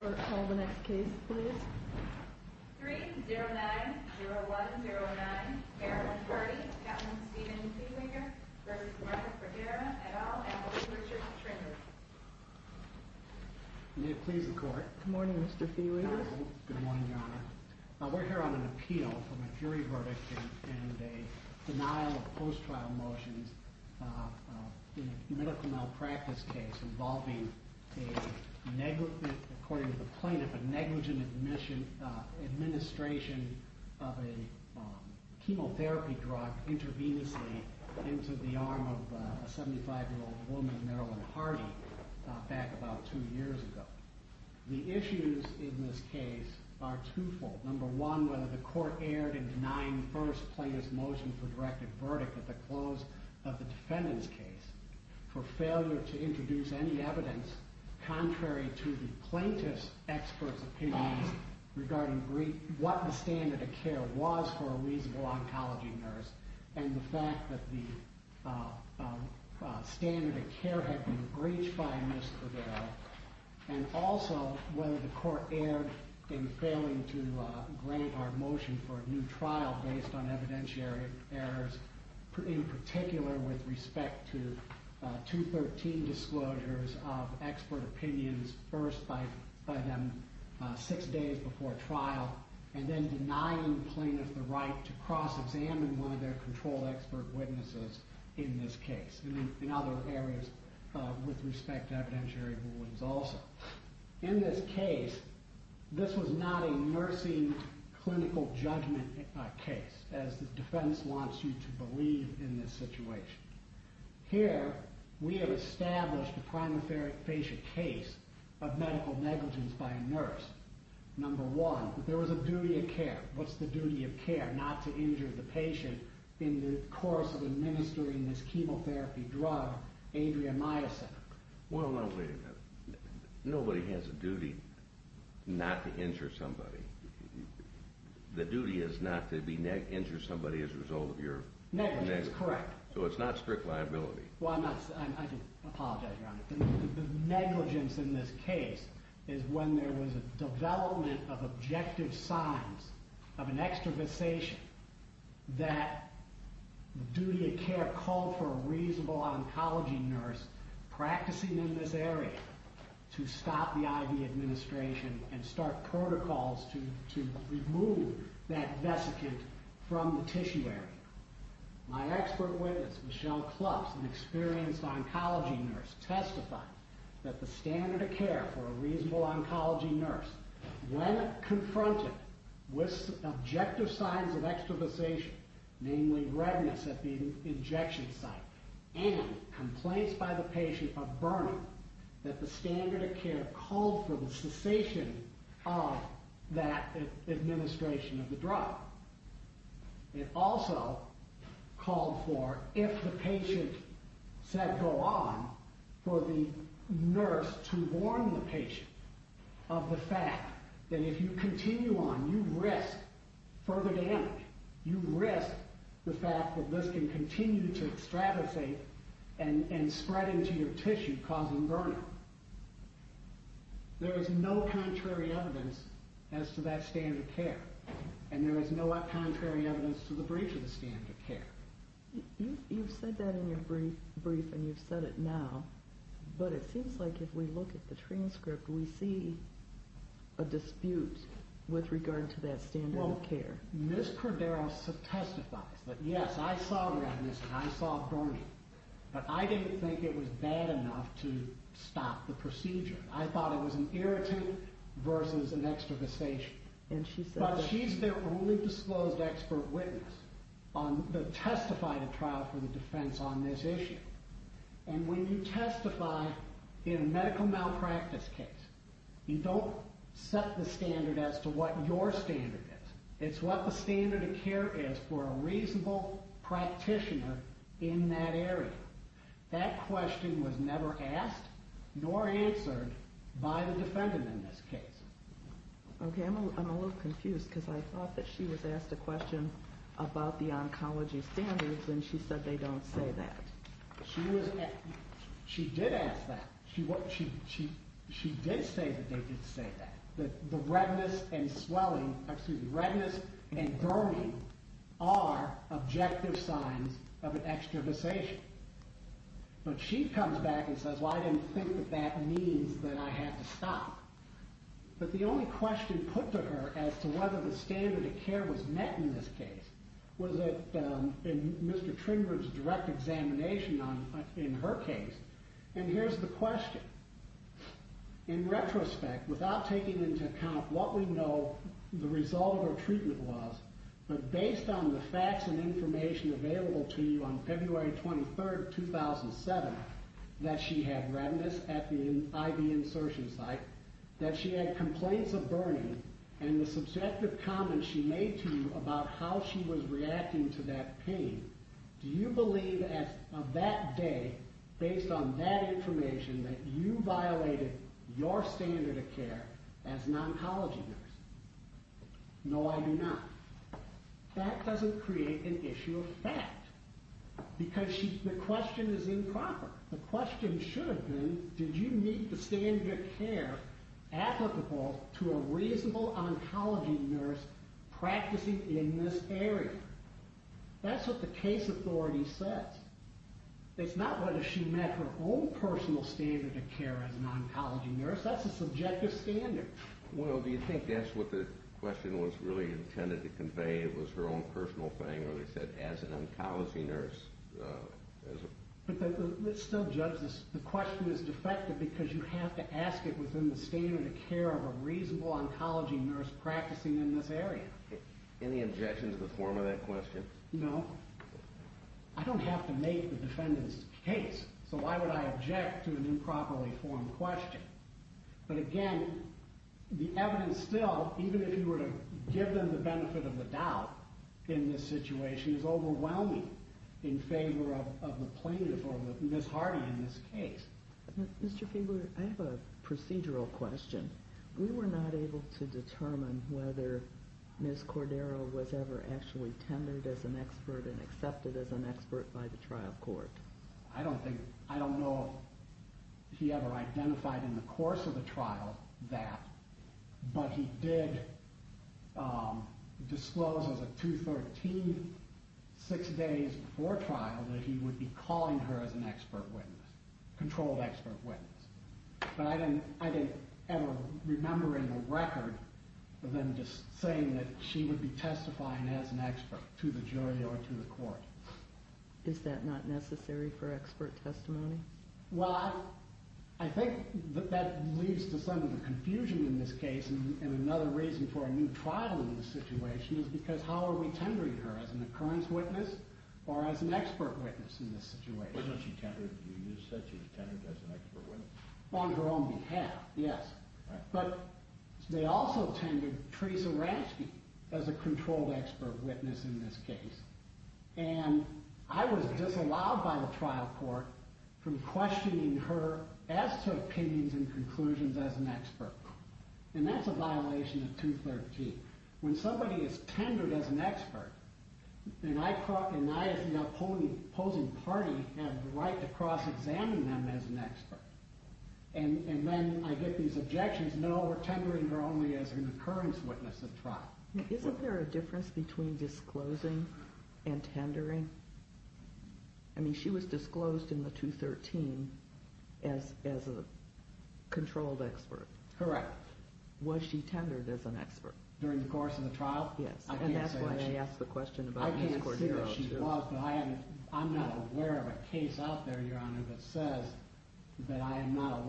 for all the next case please. Three zero nine zero one zero nine. They're already having seen anything here. For here at all. You please report. Good morning, Mr Fielding. Good morning, your honor. We're here on an appeal from a jury verdict and a denial of post trial motions. Uh, medical malpractice case involving a negligent, according to the plaintiff, a negligent admission, uh, administration of a chemotherapy drug intravenously into the arm of a 75 year old woman, Marilyn Hardy, back about two years ago. The issues in this case are twofold. Number one, whether the court erred in denying first plaintiff's motion for directed verdict at the close of the defendant's case for failure to contrary to the plaintiff's experts opinions regarding what the standard of care was for a reasonable oncology nurse and the fact that the standard of care had been breached by Mr. Cordero. And also whether the court erred in failing to grade our motion for a new trial based on evidentiary errors, in particular with respect to 213 disclosures of expert opinions, first by them six days before trial, and then denying plaintiff the right to cross examine one of their controlled expert witnesses in this case and in other areas with respect to evidentiary rulings also. In this case, this was not a nursing clinical judgment case, as the defense wants you to believe in this situation. Here, we have established a prima facie case of medical negligence by a nurse. Number one, there was a duty of care. What's the duty of care? Not to injure the patient in the course of administering this chemotherapy drug, Adriamycin. Well, no, wait a minute. Nobody has a duty not to injure somebody. The duty is not to injure somebody as a result of your... Correct. So it's not strict liability. Well, I'm not... I do apologize, Your Honor. The negligence in this case is when there was a development of objective signs of an extravasation that the duty of care called for a reasonable oncology nurse practicing in this area to stop the IV administration and start protocols to remove that vesicant from the tissue area. My expert witness, Michelle Klutz, an experienced oncology nurse, testified that the standard of care for a reasonable oncology nurse, when confronted with objective signs of extravasation, namely redness at the injection site and complaints by the patient of burning, that the standard of care called for cessation of that administration of the drug. It also called for, if the patient said go on, for the nurse to warn the patient of the fact that if you continue on, you risk further damage. You risk the fact that this can continue to extravasate and spread into your tissue, causing burning. There is no contrary evidence as to that standard of care, and there is no contrary evidence to the breach of the standard of care. You've said that in your brief, and you've said it now, but it seems like if we look at the transcript, we see a dispute with regard to that standard of care. Well, Ms. Cordero testifies that, yes, I saw redness and I saw burning, but I didn't think it was bad enough to stop the procedure. I thought it was an irritant versus an extravasation. But she's the only disclosed expert witness that testified at trial for the defense on this issue. And when you testify in a medical malpractice case, you don't set the standard as to what your standard is. It's what the standard of care is for a reasonable practitioner in that question was never asked nor answered by the defendant in this case. Okay, I'm a little confused because I thought that she was asked a question about the oncology standards, and she said they don't say that. She did ask that. She did say that they did say that, that the redness and burning are objective signs of an extravasation. But she comes back and says, well, I didn't think that that means that I had to stop. But the only question put to her as to whether the standard of care was met in this case was that in Mr. Trinburn's direct examination in her case. And here's the question. In retrospect, without taking into account what we know the result of treatment was, but based on the facts and information available to you on February 23rd, 2007, that she had redness at the IV insertion site, that she had complaints of burning, and the subjective comments she made to you about how she was reacting to that pain, do you believe of that day, based on that information, that you violated your standard of care as an oncology nurse? No, I do not. That doesn't create an issue of fact. Because the question is improper. The question should have been, did you meet the standard of care applicable to a reasonable oncology nurse practicing in this area? That's what the case authority says. It's not whether she met her own personal standard of care as an oncology nurse. That's a subjective standard. Well, do you think that's what the question was really intended to convey, was her own personal thing, or they said as an oncology nurse? But let's still judge this. The question is defective because you have to ask it within the standard of care of a reasonable oncology nurse practicing in this area. Any objection to the form of that question? No. I don't have to make the defendant's case, so why would I object to an improperly formed question? But again, the evidence still, even if you were to give them the benefit of the doubt in this situation, is overwhelming in favor of the plaintiff or Ms. Hardy in this case. Mr. Fieber, I have a procedural question. We were not able to determine whether Ms. Cordero was ever actually tendered as an expert and accepted as an expert by the trial court. I don't know if he ever identified in the course of the trial that, but he did disclose as of 2-13, six days before trial, that he would be calling her as an expert witness, controlled expert witness. But I didn't ever remember in the record them just saying that she would be testifying as an expert to the jury or to the court. Is that not necessary for expert testimony? Well, I think that leads to some of the confusion in this case, and another reason for a new trial in this situation is because how are we tendering her, as an occurrence witness or as an expert witness in this situation? When she tendered, you just said she was tendered as an expert witness. On her own behalf, yes. But they also tended Teresa Ransky as a controlled expert witness in this case, and I was disallowed by the trial court from questioning her as to opinions and conclusions as an expert, and that's a violation of 2-13. When somebody is tendered as an expert, and I as the opposing party have the right to cross-examine them as an expert, and then I get these objections, no, we're tendering her only as an occurrence witness at trial. Isn't there a difference between disclosing and tendering? I mean, she was disclosed in the 2-13 as a controlled expert. Correct. Was she tendered as an expert? During the course of the trial? Yes. I can't say that she was. And that's why they asked the question about an escort hero, too. I can't say that she was, but I'm not aware of a case out there, Your Honor, that says that I am not a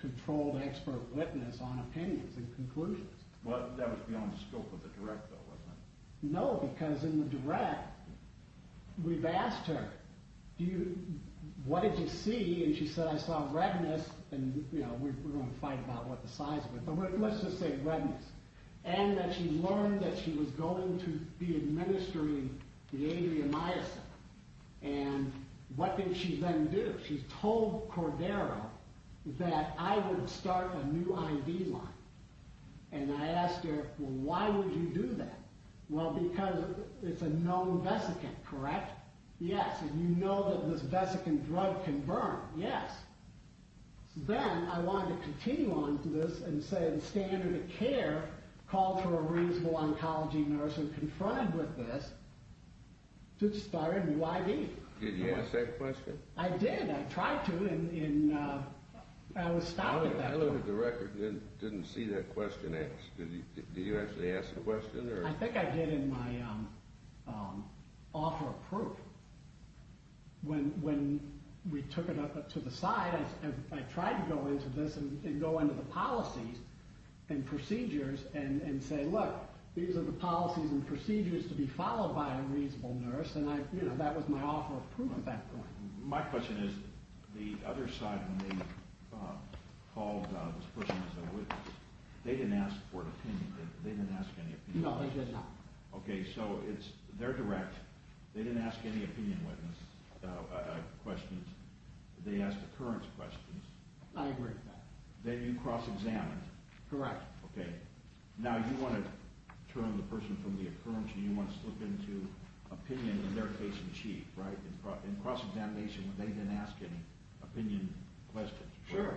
controlled expert witness on opinions and conclusions. Well, that was beyond the scope of the direct, though, wasn't it? No, because in the direct, we've asked her, what did you see? And she said, I saw redness, and we're going to fight about what the size was, but let's just say redness. And that she learned that she was going to be administering the I would start a new IV line. And I asked her, well, why would you do that? Well, because it's a known vesicant, correct? Yes. And you know that this vesicant drug can burn. Yes. Then I wanted to continue on to this and say the standard of care called for a reasonable oncology nurse and confronted with this to start a new IV. Did you ask that question? I did. I tried to, and I was stopped at that point. I looked at the record and didn't see that question asked. Did you actually ask the question? I think I did in my offer of proof. When we took it up to the side, I tried to go into this and go into the policies and procedures and say, look, these are the policies and procedures to be followed by a reasonable nurse. And that was my offer of proof My question is the other side when they called this person as a witness, they didn't ask for an opinion. They didn't ask any opinion. No, they did not. Okay. So it's their direct. They didn't ask any opinion witness questions. They asked occurrence questions. I agree with that. Then you cross examined. Correct. Okay. Now you want to turn the person from the occurrence and you want to slip into opinion in their case in chief, right? In cross examination when they didn't ask any opinion questions. Sure.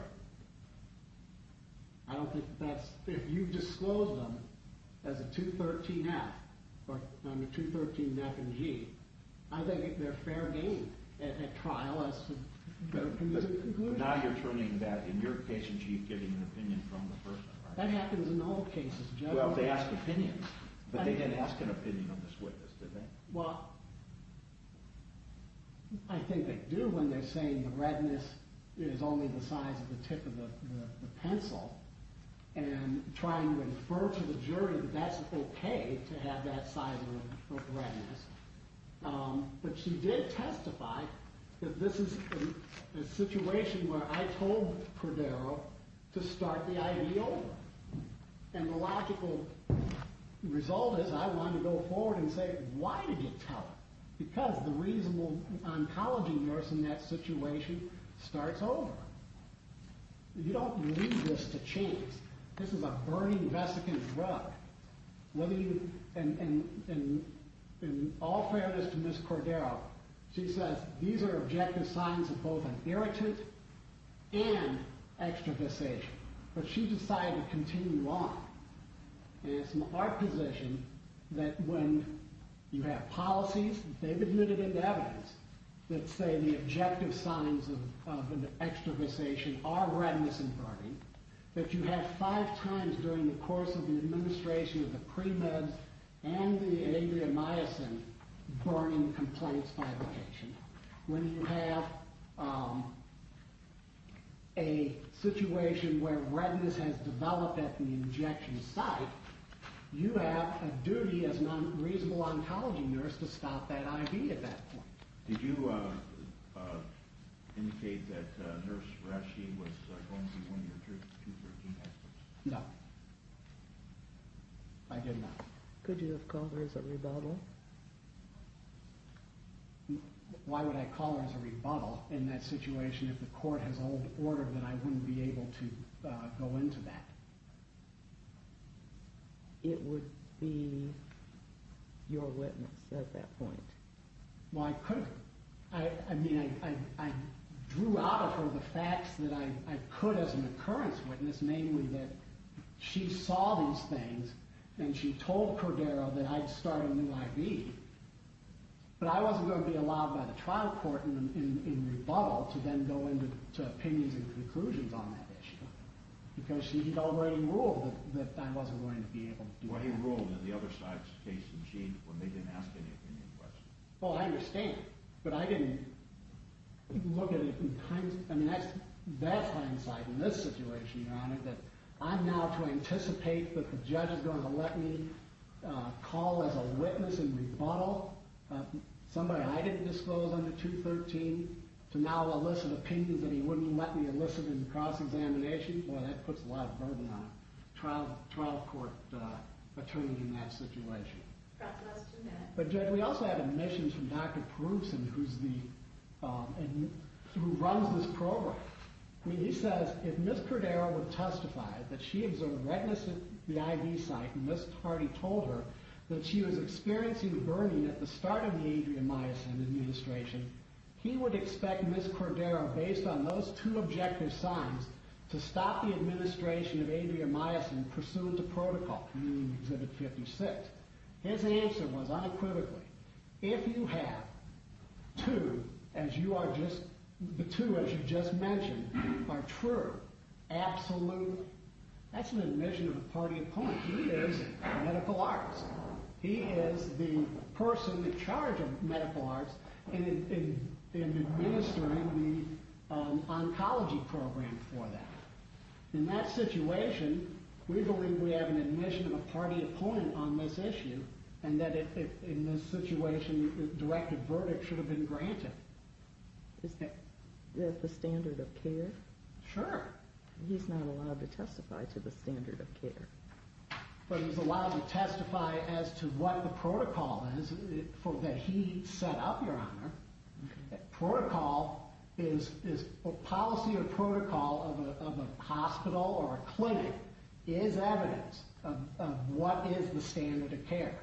I don't think that's if you've disclosed them as a 213 F or 213 F and G, I think they're fair game at trial. Now you're turning that in your case in chief, giving an opinion from the person that happens in all cases. Well, they asked opinions, but they didn't ask an opinion. Well, I think they do when they're saying the redness is only the size of the tip of the pencil and trying to infer to the jury that that's okay to have that size of redness. But she did testify that this is a situation where I told Cordero to start the idea over. And the logical result is I want to go forward and say, why did you tell her? Because the reasonable oncology nurse in that situation starts over. You don't need this to change. This is a burning, vesicant drug. In all fairness to Ms. Cordero, she says these are objective signs of both an irritant and extroversation. But she decided to say that when you have policies that they've admitted in evidence that say the objective signs of an extroversation are redness and burning, that you have five times during the course of the administration of the premeds and the aviomycin burning complaints fabrication. When you have a situation where a duty as a reasonable oncology nurse to stop that IV at that point. Did you indicate that Nurse Rashid was going to be one of your two virgin experts? No. I did not. Could you have called her as a rebuttal? Why would I call her as a rebuttal in that situation if the court has old be your witness at that point? Well, I could. I mean, I drew out of her the facts that I could as an occurrence witness, namely that she saw these things and she told Cordero that I'd start a new IV. But I wasn't going to be allowed by the trial court in rebuttal to then go into opinions and conclusions on that issue. Because she'd already ruled that I wasn't going to be able to do that. Well, she already ruled that the other side's case was changed when they didn't ask any opinion questions. Well, I understand. But I didn't look at it in hindsight. I mean, that's hindsight in this situation, Your Honor, that I'm now to anticipate that the judge is going to let me call as a witness in rebuttal somebody I didn't disclose under 213 to now elicit opinions that he wouldn't let me elicit in cross-examination. Boy, that would be a terrible attorney in that situation. That's what I was doing then. But Judge, we also have admissions from Dr. Perusin, who runs this program. He says if Ms. Cordero would testify that she observed redness at the IV site and Ms. Hardy told her that she was experiencing burning at the start of the Adria Myosin administration, he would expect Ms. Cordero, based on those two objective signs, to stop the administration of Adria Myosin pursuant to Exhibit 56. His answer was unequivocally, if you have two, as you are just, the two as you just mentioned are true, absolute, that's an admission of a party of points. He is medical arts. He is the person in charge of medical arts and administering the oncology program for that. In that situation, we believe we have an admission of a party of point on this issue, and that in this situation, a directed verdict should have been granted. Is that the standard of care? Sure. He's not allowed to testify to the standard of care. But he's allowed to testify as to what the protocol is that he set up, Your Honor, as evidence of what is the standard of care.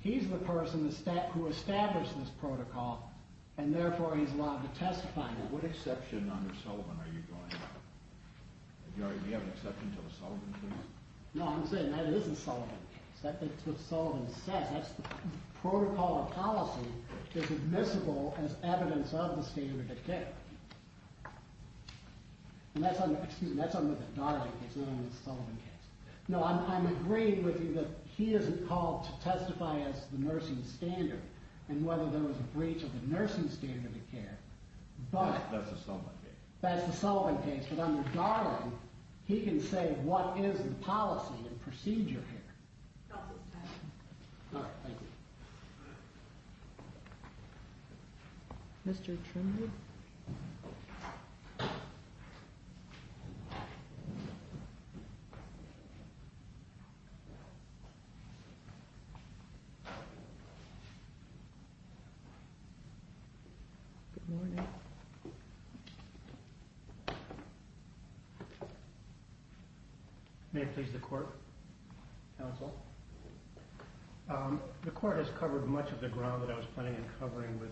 He's the person who established this protocol, and therefore he's allowed to testify now. What exception under Sullivan are you going to? Do you have an exception to the Sullivan case? No, I'm saying that is a Sullivan case. That's what Sullivan says. That's the protocol of policy that's admissible as evidence of the standard of care. And that's under the Darling case, not under the Sullivan case. No, I'm agreeing with you that he isn't called to testify as to the nursing standard, and whether there was a breach of the nursing standard of care. That's the Sullivan case. That's the Sullivan case. But under Darling, he can say what is the policy and procedure here. All right, thank you. Mr. Trimley? Good morning. May it please the court, counsel? The court has covered much of the ground that I was planning on covering with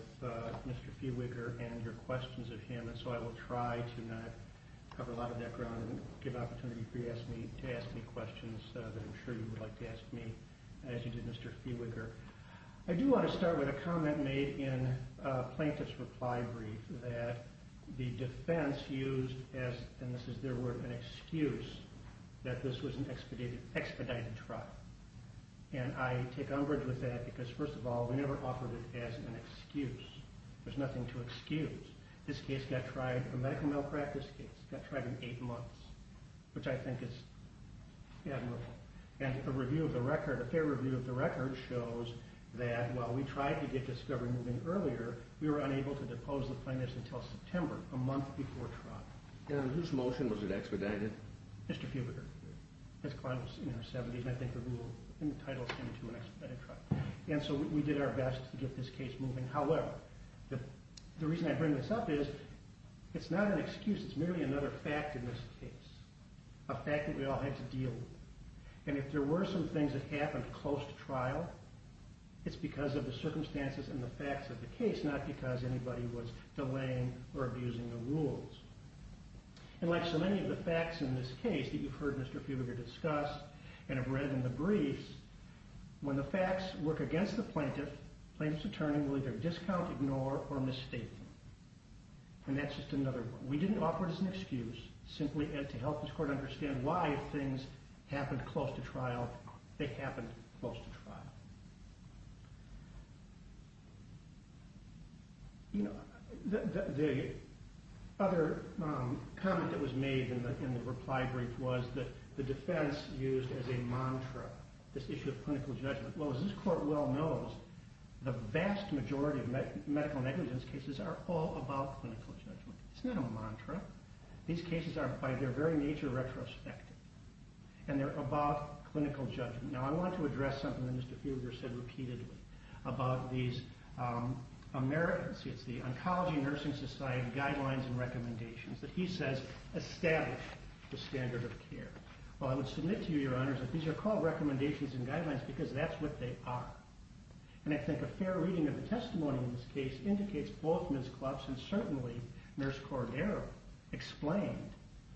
Mr. Fewiger and your questions of him, and so I will try to not cover a lot of that ground and give opportunity for you to ask me questions that I'm sure you would like to ask me, as you did Mr. Fewiger. I do want to start with a comment made in a plaintiff's reply brief that the defense used, and this is their word, an excuse that this was an expedited trial. And I take umbrage with that because, first of all, we never offered it as an excuse. There's nothing to excuse. This case got tried, a medical malpractice case, got tried in eight months, which I think is admirable. And a review of the record, a fair review of the record, shows that while we tried to get discovered moving earlier, we were unable to depose the plaintiffs until September, a month before trial. And whose motion was it expedited? Mr. Fewiger. As Clyde was saying, in her 70s, and I think the rule in the title seemed to have expedited trial. And so we did our best to get this case moving. However, the reason I bring this up is, it's not an excuse. It's merely another fact in this case, a fact that we all had to deal with. And if there were some things that happened close to trial, it's because of the circumstances and the facts of the case, not because anybody was delaying or abusing the rules. And like so many of the facts in this case that you've heard Mr. Fewiger discuss and have read in the briefs, when the facts work against the plaintiff, the plaintiff's attorney will either discount, ignore, or misstate them. And that's just another one. We didn't offer it as an excuse, simply to help this court understand why if things happened close to trial, they happened close to trial. You know, the other comment that was made in the reply brief was that the defense used as a mantra, this issue of clinical judgment. Well, as this court well knows, the vast majority of medical negligence cases are all about clinical judgment. It's not a mantra. These cases are, by their very nature, retrospective. And they're about clinical judgment. Now, I want to address something that Mr. Fewiger said repeatedly about these Americans. It's the Oncology Nursing Society Guidelines and Recommendations that he says established the standard of care. Well, I would submit to you, your honors, that these are called recommendations and guidelines because that's what they are. And I think a fair reading of the testimony in this case indicates both Ms. Klotz and certainly Nurse Cordero explained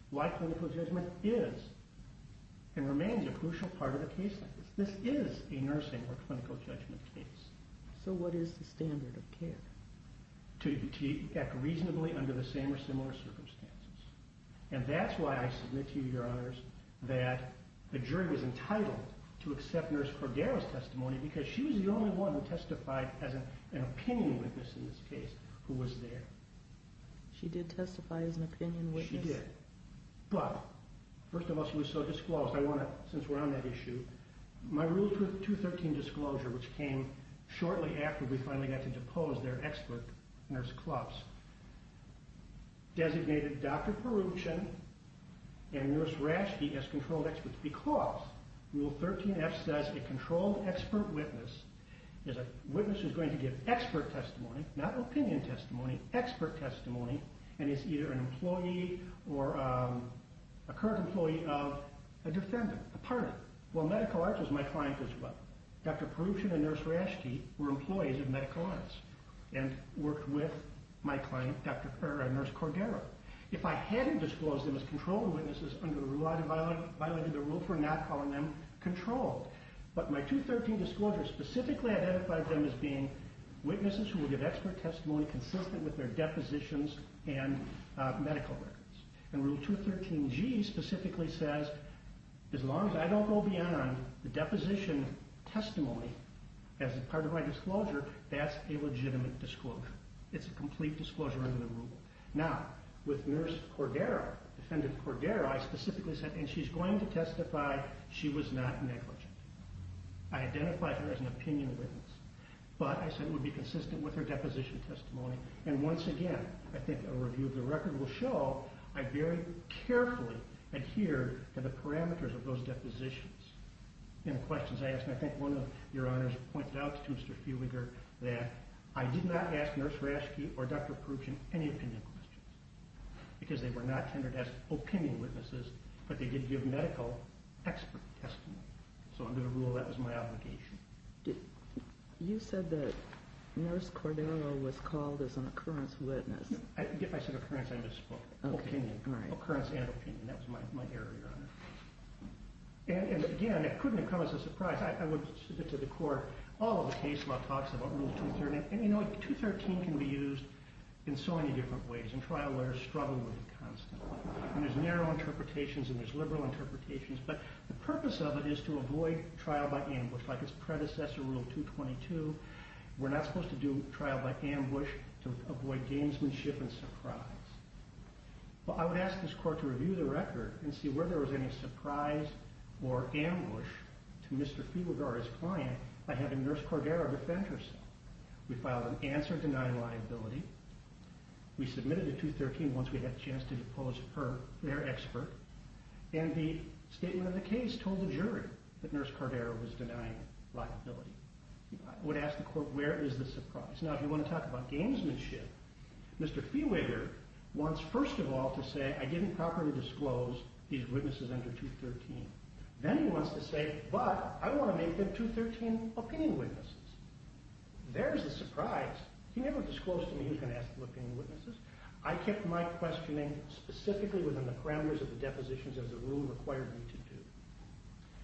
why clinical judgment is and remains a crucial part of a case like this. This is a nursing or clinical judgment case. So what is the standard of care? To act reasonably under the same or similar circumstances. And that's why I submit to you, your honors, that the jury was entitled to accept Nurse Cordero's testimony because she was the only one who testified as an opinion witness in this case who was there. She did testify as an opinion witness? She did. But first of all, since we're on that issue, my Rule 213 disclosure, which came shortly after we finally got to depose their expert, Nurse Klotz, designated Dr. Peruchin and Nurse Rashke as controlled experts because Rule 13F says a controlled expert witness is a witness who's going to give expert testimony, not opinion testimony, expert testimony, and is either an employee or a current employee of a defendant, a partner. Well, medical arts was my client as well. Dr. Peruchin and Nurse Rashke were employees of medical arts and worked with my client, Nurse Cordero. If I hadn't disclosed them as controlled witnesses under the rule, I'd have violated the rule for not calling them controlled. But my 213 disclosure specifically identified them as being witnesses who will give expert testimony consistent with their depositions and medical records. And Rule 213G specifically says as long as I don't go beyond the deposition testimony as a part of my disclosure, that's a legitimate disclosure. It's a complete disclosure under the rule. Now, with Nurse Cordero, defendant Cordero, I specifically said, and she's going to testify, she was not negligent. I identified her as an opinion witness. But I said it would be consistent with her deposition testimony. And once again, I think a review of the record will show I very carefully adhered to the parameters of those depositions and questions I asked. And I think one of your honors pointed out to Mr. Feuliger that I did not ask Nurse Rashke or Dr. Peruchin any opinion questions because they were not tendered as opinion witnesses, but they did give medical expert testimony. So under the rule, that was my obligation. You said that Nurse Cordero was called as an occurrence witness. I said occurrence, I misspoke. Opinion. Occurrence and opinion. That was my error, your honor. And again, it couldn't have come as a surprise. I would submit to the court all of the case law talks about Rule 213. And you know, 213 can be used in so many different ways. And trial lawyers struggle with it constantly. And there's narrow interpretations and there's liberal interpretations. But the purpose of it is to avoid trial by ambush. Like its predecessor, Rule 222, we're not supposed to do trial by ambush to avoid gamesmanship and surprise. But I would ask this court to review the record and see whether there was any surprise or ambush to Mr. Feuliger or his client by having Nurse Cordero defend herself. We filed an answer denying liability. We submitted the 213 once we had a chance to depose her, their expert. And the statement of the was denying liability. I would ask the court where is the surprise? Now, if you want to talk about gamesmanship, Mr. Feuliger wants first of all to say, I didn't properly disclose these witnesses under 213. Then he wants to say, but I want to make them 213 opinion witnesses. There's the surprise. He never disclosed to me he was going to ask for opinion witnesses. I kept my questioning specifically within the parameters of the depositions as the rule required me to do.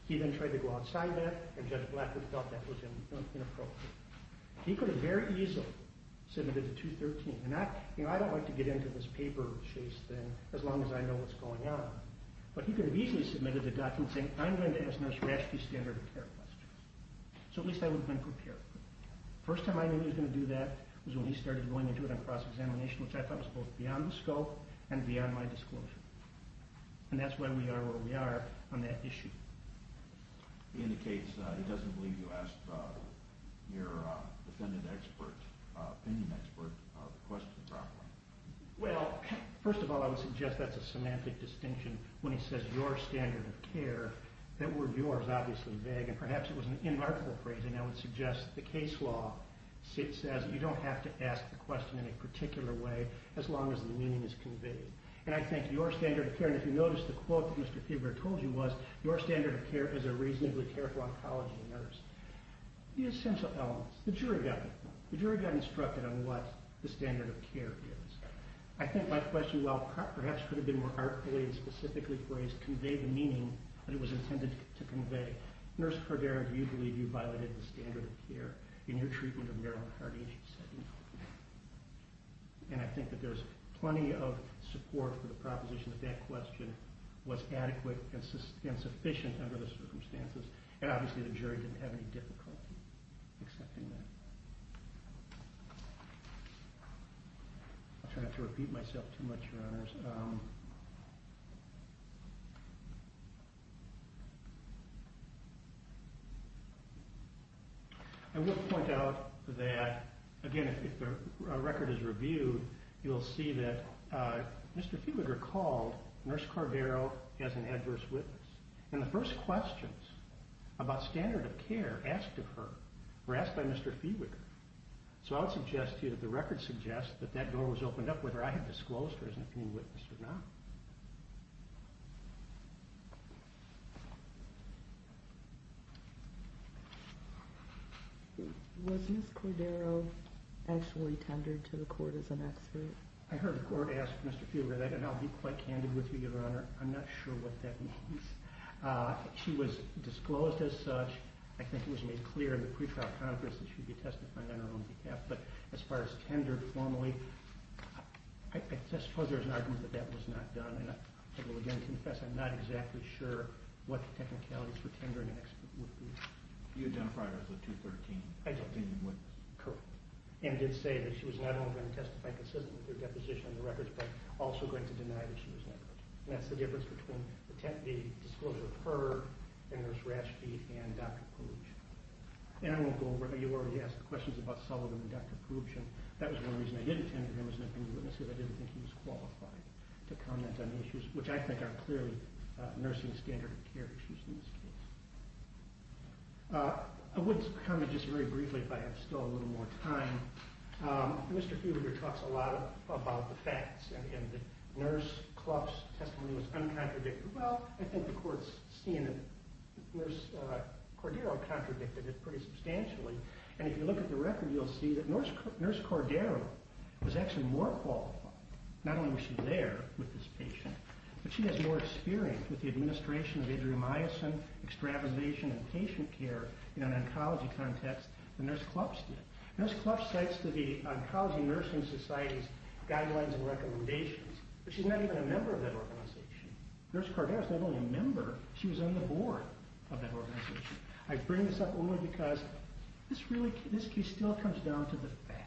He then tried to go inside that and Judge Blackwood felt that was inappropriate. He could have very easily submitted the 213. And I don't like to get into this paper chase thing as long as I know what's going on. But he could have easily submitted the document saying, I'm going to ask Nurse Rashke standard of care questions. So at least I would have been prepared. First time I knew he was going to do that was when he started going into it on cross-examination, which I thought was both beyond the scope and beyond my disclosure. And that's why we are where we are on that case. He doesn't believe you asked your defendant expert, opinion expert, the question properly. Well, first of all, I would suggest that's a semantic distinction when he says your standard of care. That word your is obviously vague. And perhaps it was an inarticulate phrase. And I would suggest the case law says you don't have to ask the question in a particular way as long as the meaning is conveyed. And I think your standard of care, if you notice the quote that Mr. standard of care is a reasonably careful oncology nurse, the essential elements, the jury got it. The jury got instructed on what the standard of care is. I think my question, while perhaps could have been more artfully and specifically phrased, conveyed the meaning that it was intended to convey. Nurse Cordera, do you believe you violated the standard of care in your treatment of Marilyn Hardy? And she said no. And I think that there's plenty of support for the proposition that that question was adequate and sufficient under the circumstances. And obviously the jury didn't have any difficulty accepting that. I'll try not to repeat myself too much, your honors. I will point out that, again, if the record is reviewed, you will see that Mr. Fiewiger called Nurse Cordero as an adverse witness. And the first questions about standard of care asked of her were asked by Mr. Fiewiger. So I would suggest to you that the record suggests that that door was opened up whether I had disclosed her as an opinion witness or not. Was Ms. Cordero actually tendered to the court as an expert? I heard the court ask Mr. Fiewiger that. And I'll be quite candid with you, your honor. I'm not sure what that means. She was disclosed as such. I think it was made clear in the pre-trial conference that she'd be testifying on her own behalf. But as far as tendered formally, I suppose there's an argument that that was not done. And I will again confess I'm not exactly sure what the technicalities for tendering an expert would be. You identified her as a 213 opinion witness. Correct. And did say that she was not only going to testify consistently with her deposition on the records, but also going to deny that she was negligent. And that's the difference between the disclosure of her and Nurse Ratchfield and Dr. Poobsch. And I won't go over it. You already asked the questions about Sullivan and Dr. Poobsch. And that was one reason I didn't tender him as an opinion witness, because I didn't think he was qualified to comment on the issues, which I think are clearly nursing standard of care issues in this case. I would comment just very briefly if I have still a little more time. Mr. Fiewiger talks a lot about the facts. And the Nurse Cluff's testimony was uncontradictory. Well, I think the court's seeing that Nurse Cordero contradicted it pretty substantially. And if you look at the record, you'll see that Nurse Cordero was actually more qualified. Not only was she there with this patient, but she has more experience with the administration of adrenomycin, extravasation, and patient care in an oncology context than Nurse Cluff's did. Nurse Cluff cites to the nursing society's guidelines and recommendations, but she's not even a member of that organization. Nurse Cordero's not only a member, she was on the board of that organization. I bring this up only because this case still comes down to the facts.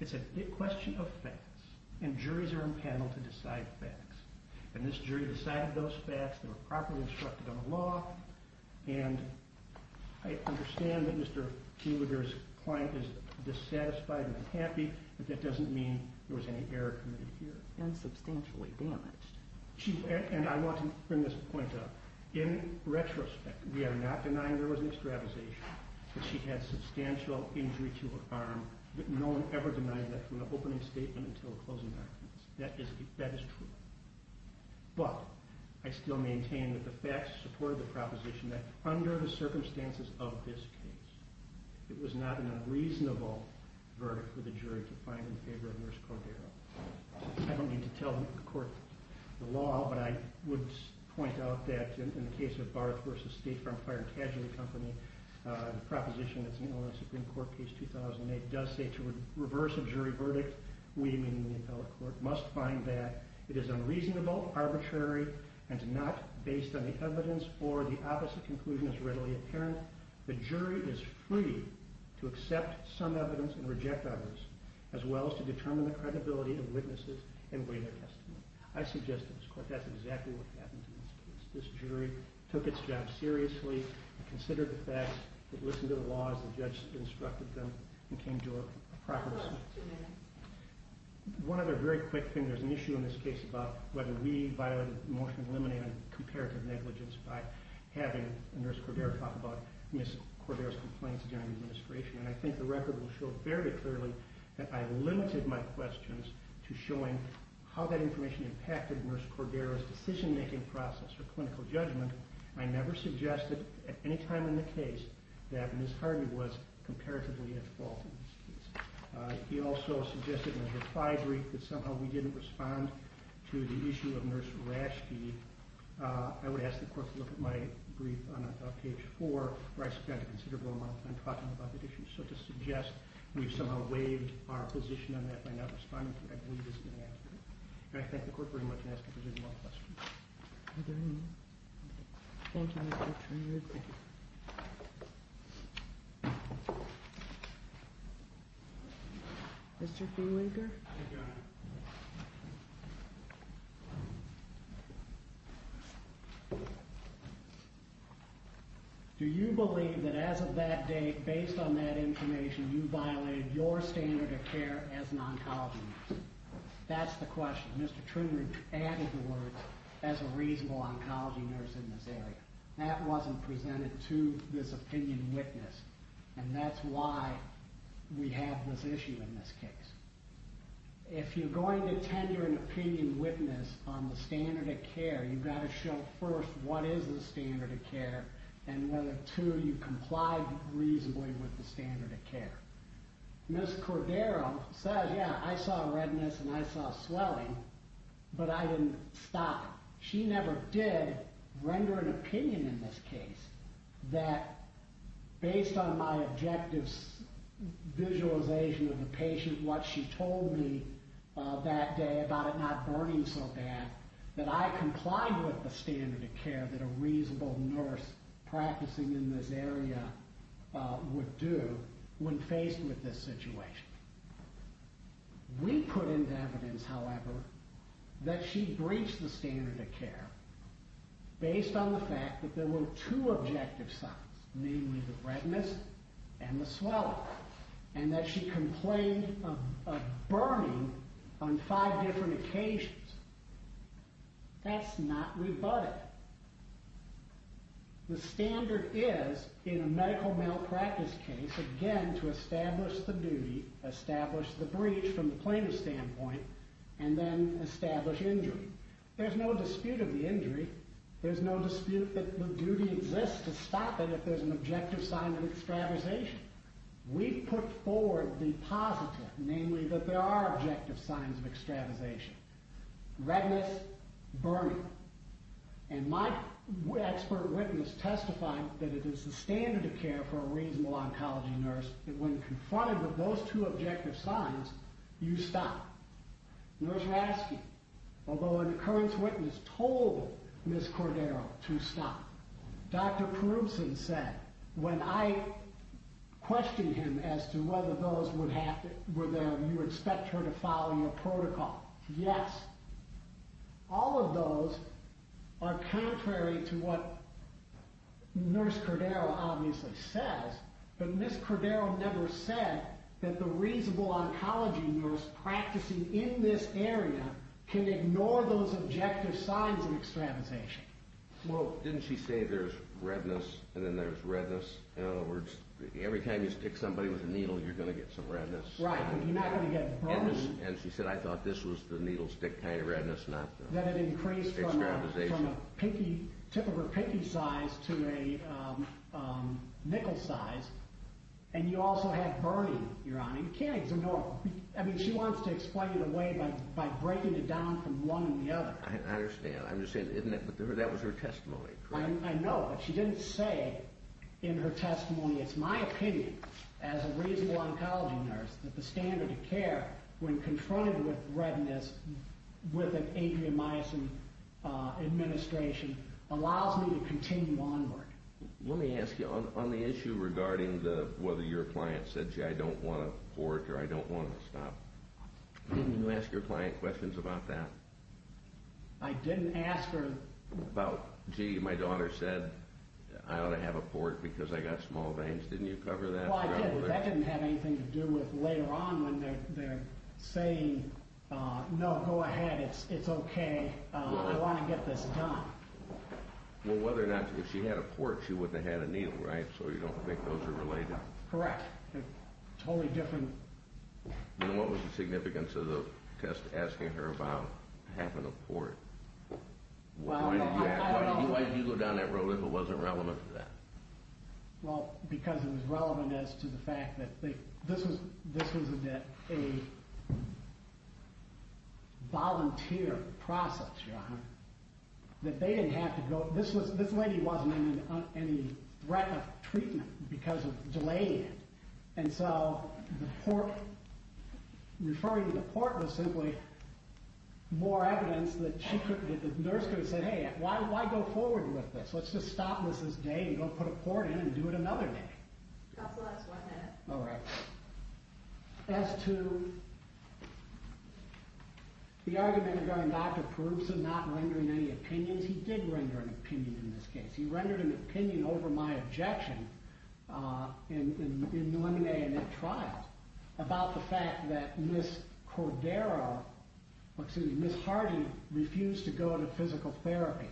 It's a question of facts. And juries are impaneled to decide facts. And this jury decided those facts. They were properly instructed on the law. And I understand that Mr. Hewitter's client is dissatisfied and unhappy, but that doesn't mean there was any error committed here. And substantially damaged. And I want to bring this point up. In retrospect, we are not denying there was an extravasation, but she had substantial injury to her arm. No one ever denied that from the opening statement until the closing documents. That is true. But I still maintain that the facts support the proposition that under the circumstances of this case, it was not an unreasonable verdict for the jury to find in favor of Nurse Cordero. I don't need to tell the court the law, but I would point out that in the case of Barth v. State Farm Fire and Casualty Company, the proposition that's in Illinois Supreme Court, page 2008, does say to reverse a jury verdict, we, meaning the appellate court, must find that it is unreasonable, arbitrary, and not based on the evidence or the opposite conclusion is readily apparent. The jury is free to accept some evidence and reject others, as well as to determine the credibility of witnesses and weigh their testimony. I suggest to this court that's exactly what happened in this case. This jury took its job seriously, considered the facts, listened to the laws the judge instructed them, and came to a proper decision. One other very quick thing. There's an issue in this case about whether we violated the motion of eliminating comparative negligence by having Nurse Cordero talk about Ms. Cordero's complaints during the administration. And I think the record will show very clearly that I limited my questions to showing how that information impacted Nurse Cordero's decision making process or clinical judgment. I never suggested at any time in the case that Ms. Hardy was comparatively at fault in this case. He also suggested in his reply brief that somehow we didn't respond to the issue of Nurse Rashke. I would ask the court to look at my brief on page four, where I spent a considerable amount of time talking about that issue. So to suggest we've somehow waived our position on that by not responding to it, I believe is inadequate. And I thank the court very much, and ask if there's any more questions. Are there any? Thank you, Mr. Truman. Mr. Feenwaker? I got it. Do you believe that as of that date, based on that information, you violated your standard of care as an oncologist? That's the question. Mr. Truman added the words, as a reasonable oncology nurse in this area. That wasn't presented to this opinion witness, and that's why we have this issue in this case. If you're going to tender an opinion witness on the standard of care, you gotta show first what is the standard of care, and whether two, you complied reasonably with the standard of care. Ms. Cordero said, yeah, I saw redness and I saw swelling, but I didn't stop. She never did render an opinion in this case that, based on my objective visualization of the patient, what she told me that day about it not burning so bad, that I complied with the standard of care that a reasonable nurse practicing in this area would do when faced with this problem. We put into evidence, however, that she breached the standard of care based on the fact that there were two objective signs, namely the redness and the swelling, and that she complained of burning on five different occasions. That's not rebutted. The standard is, in a medical malpractice case, again, to establish the duty, establish the breach from the plaintiff's standpoint, and then establish injury. There's no dispute of the injury. There's no dispute that the duty exists to stop it if there's an objective sign of extravasation. We put forward the positive, namely that there are objective signs of extravasation. Redness, burning. And my expert witness testified that it is the standard of care for a reasonable oncology nurse that, when confronted with those two objective signs, you stop. Nurse Rasky, although an occurrence witness told Ms. Cordero to stop, Dr. Perubson said, when I questioned him as to whether those were there, you expect her to follow your protocol. Yes. All of those are contrary to what Nurse Cordero obviously says, but Ms. Cordero never said that the reasonable oncology nurse practicing in this area can ignore those objective signs of extravasation. Well, didn't she say there's redness, and then there's redness? In other words, every time you stick somebody with a needle, you're going to get some redness. Right, but you're not going to get burning. And she said, I thought this was the needle stick kind of redness, not the extravasation. That it increased from a typical pinky size to a nickel size, and you also have burning, Your Honor. You can't ignore... I mean, she wants to explain it away by breaking it down from one to the other. I understand. I'm just saying, isn't it? But that was her testimony, correct? I know, but she didn't say in her testimony, it's my opinion, as a reasonable oncology nurse, that the standard of care, when confronted with redness, with an atrium myosin administration, allows me to continue onward. Let me ask you, on the issue regarding whether your client said, gee, I don't want a port, or I don't want to stop. Didn't you ask your client questions about that? I didn't ask her about, gee, my daughter said, I ought to have a port because I got small veins. Didn't you cover that? Well, I didn't. That didn't have anything to do with, later on, when they're saying, no, go ahead, it's okay, I want to get this done. Well, whether or not, if she had a port, she wouldn't have had a needle, right? So you don't think those are related? Correct. They're totally different. Then what was the significance of the test asking her about having a port? Why did you go down that road if it wasn't relevant to that? Well, because it was relevant as to the fact that this was a volunteer process, your honor. That they didn't have to go... This lady wasn't in any threat of treatment because of delaying it. And so the port... Referring to the port was simply more evidence that she couldn't... The nurse could have said, hey, why go forward with this? Let's just stop this, this day, and go put a needle in her. Counselor, that's one minute. All right. As to the argument regarding Dr. Peruzza not rendering any opinions, he did render an opinion in this case. He rendered an opinion over my objection in New England A&M Trials about the fact that Ms. Cordero, or excuse me, Ms. Hardy refused to go to physical therapy.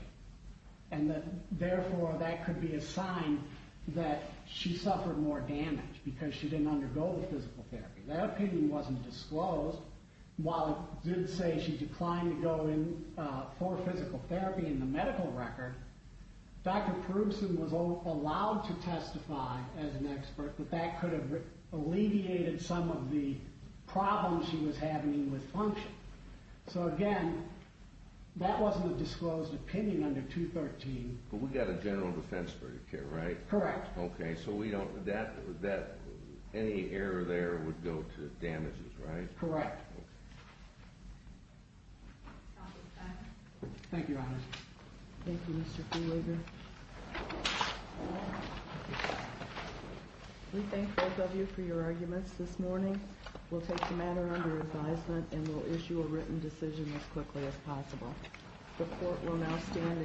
And that, therefore, that could be a sign that she suffered more damage because she didn't undergo the physical therapy. That opinion wasn't disclosed. While it did say she declined to go for physical therapy in the medical record, Dr. Peruzza was allowed to testify as an expert, but that could have alleviated some of the problems she was having with function. So again, that wasn't a general defense for her, right? Correct. Okay. So we don't... That... Any error there would go to damages, right? Correct. Thank you, Your Honor. Thank you, Mr. Fulwiger. We thank both of you for your arguments this morning. We'll take the matter under advisement, and we'll issue a written decision as quickly as possible. The court will now stand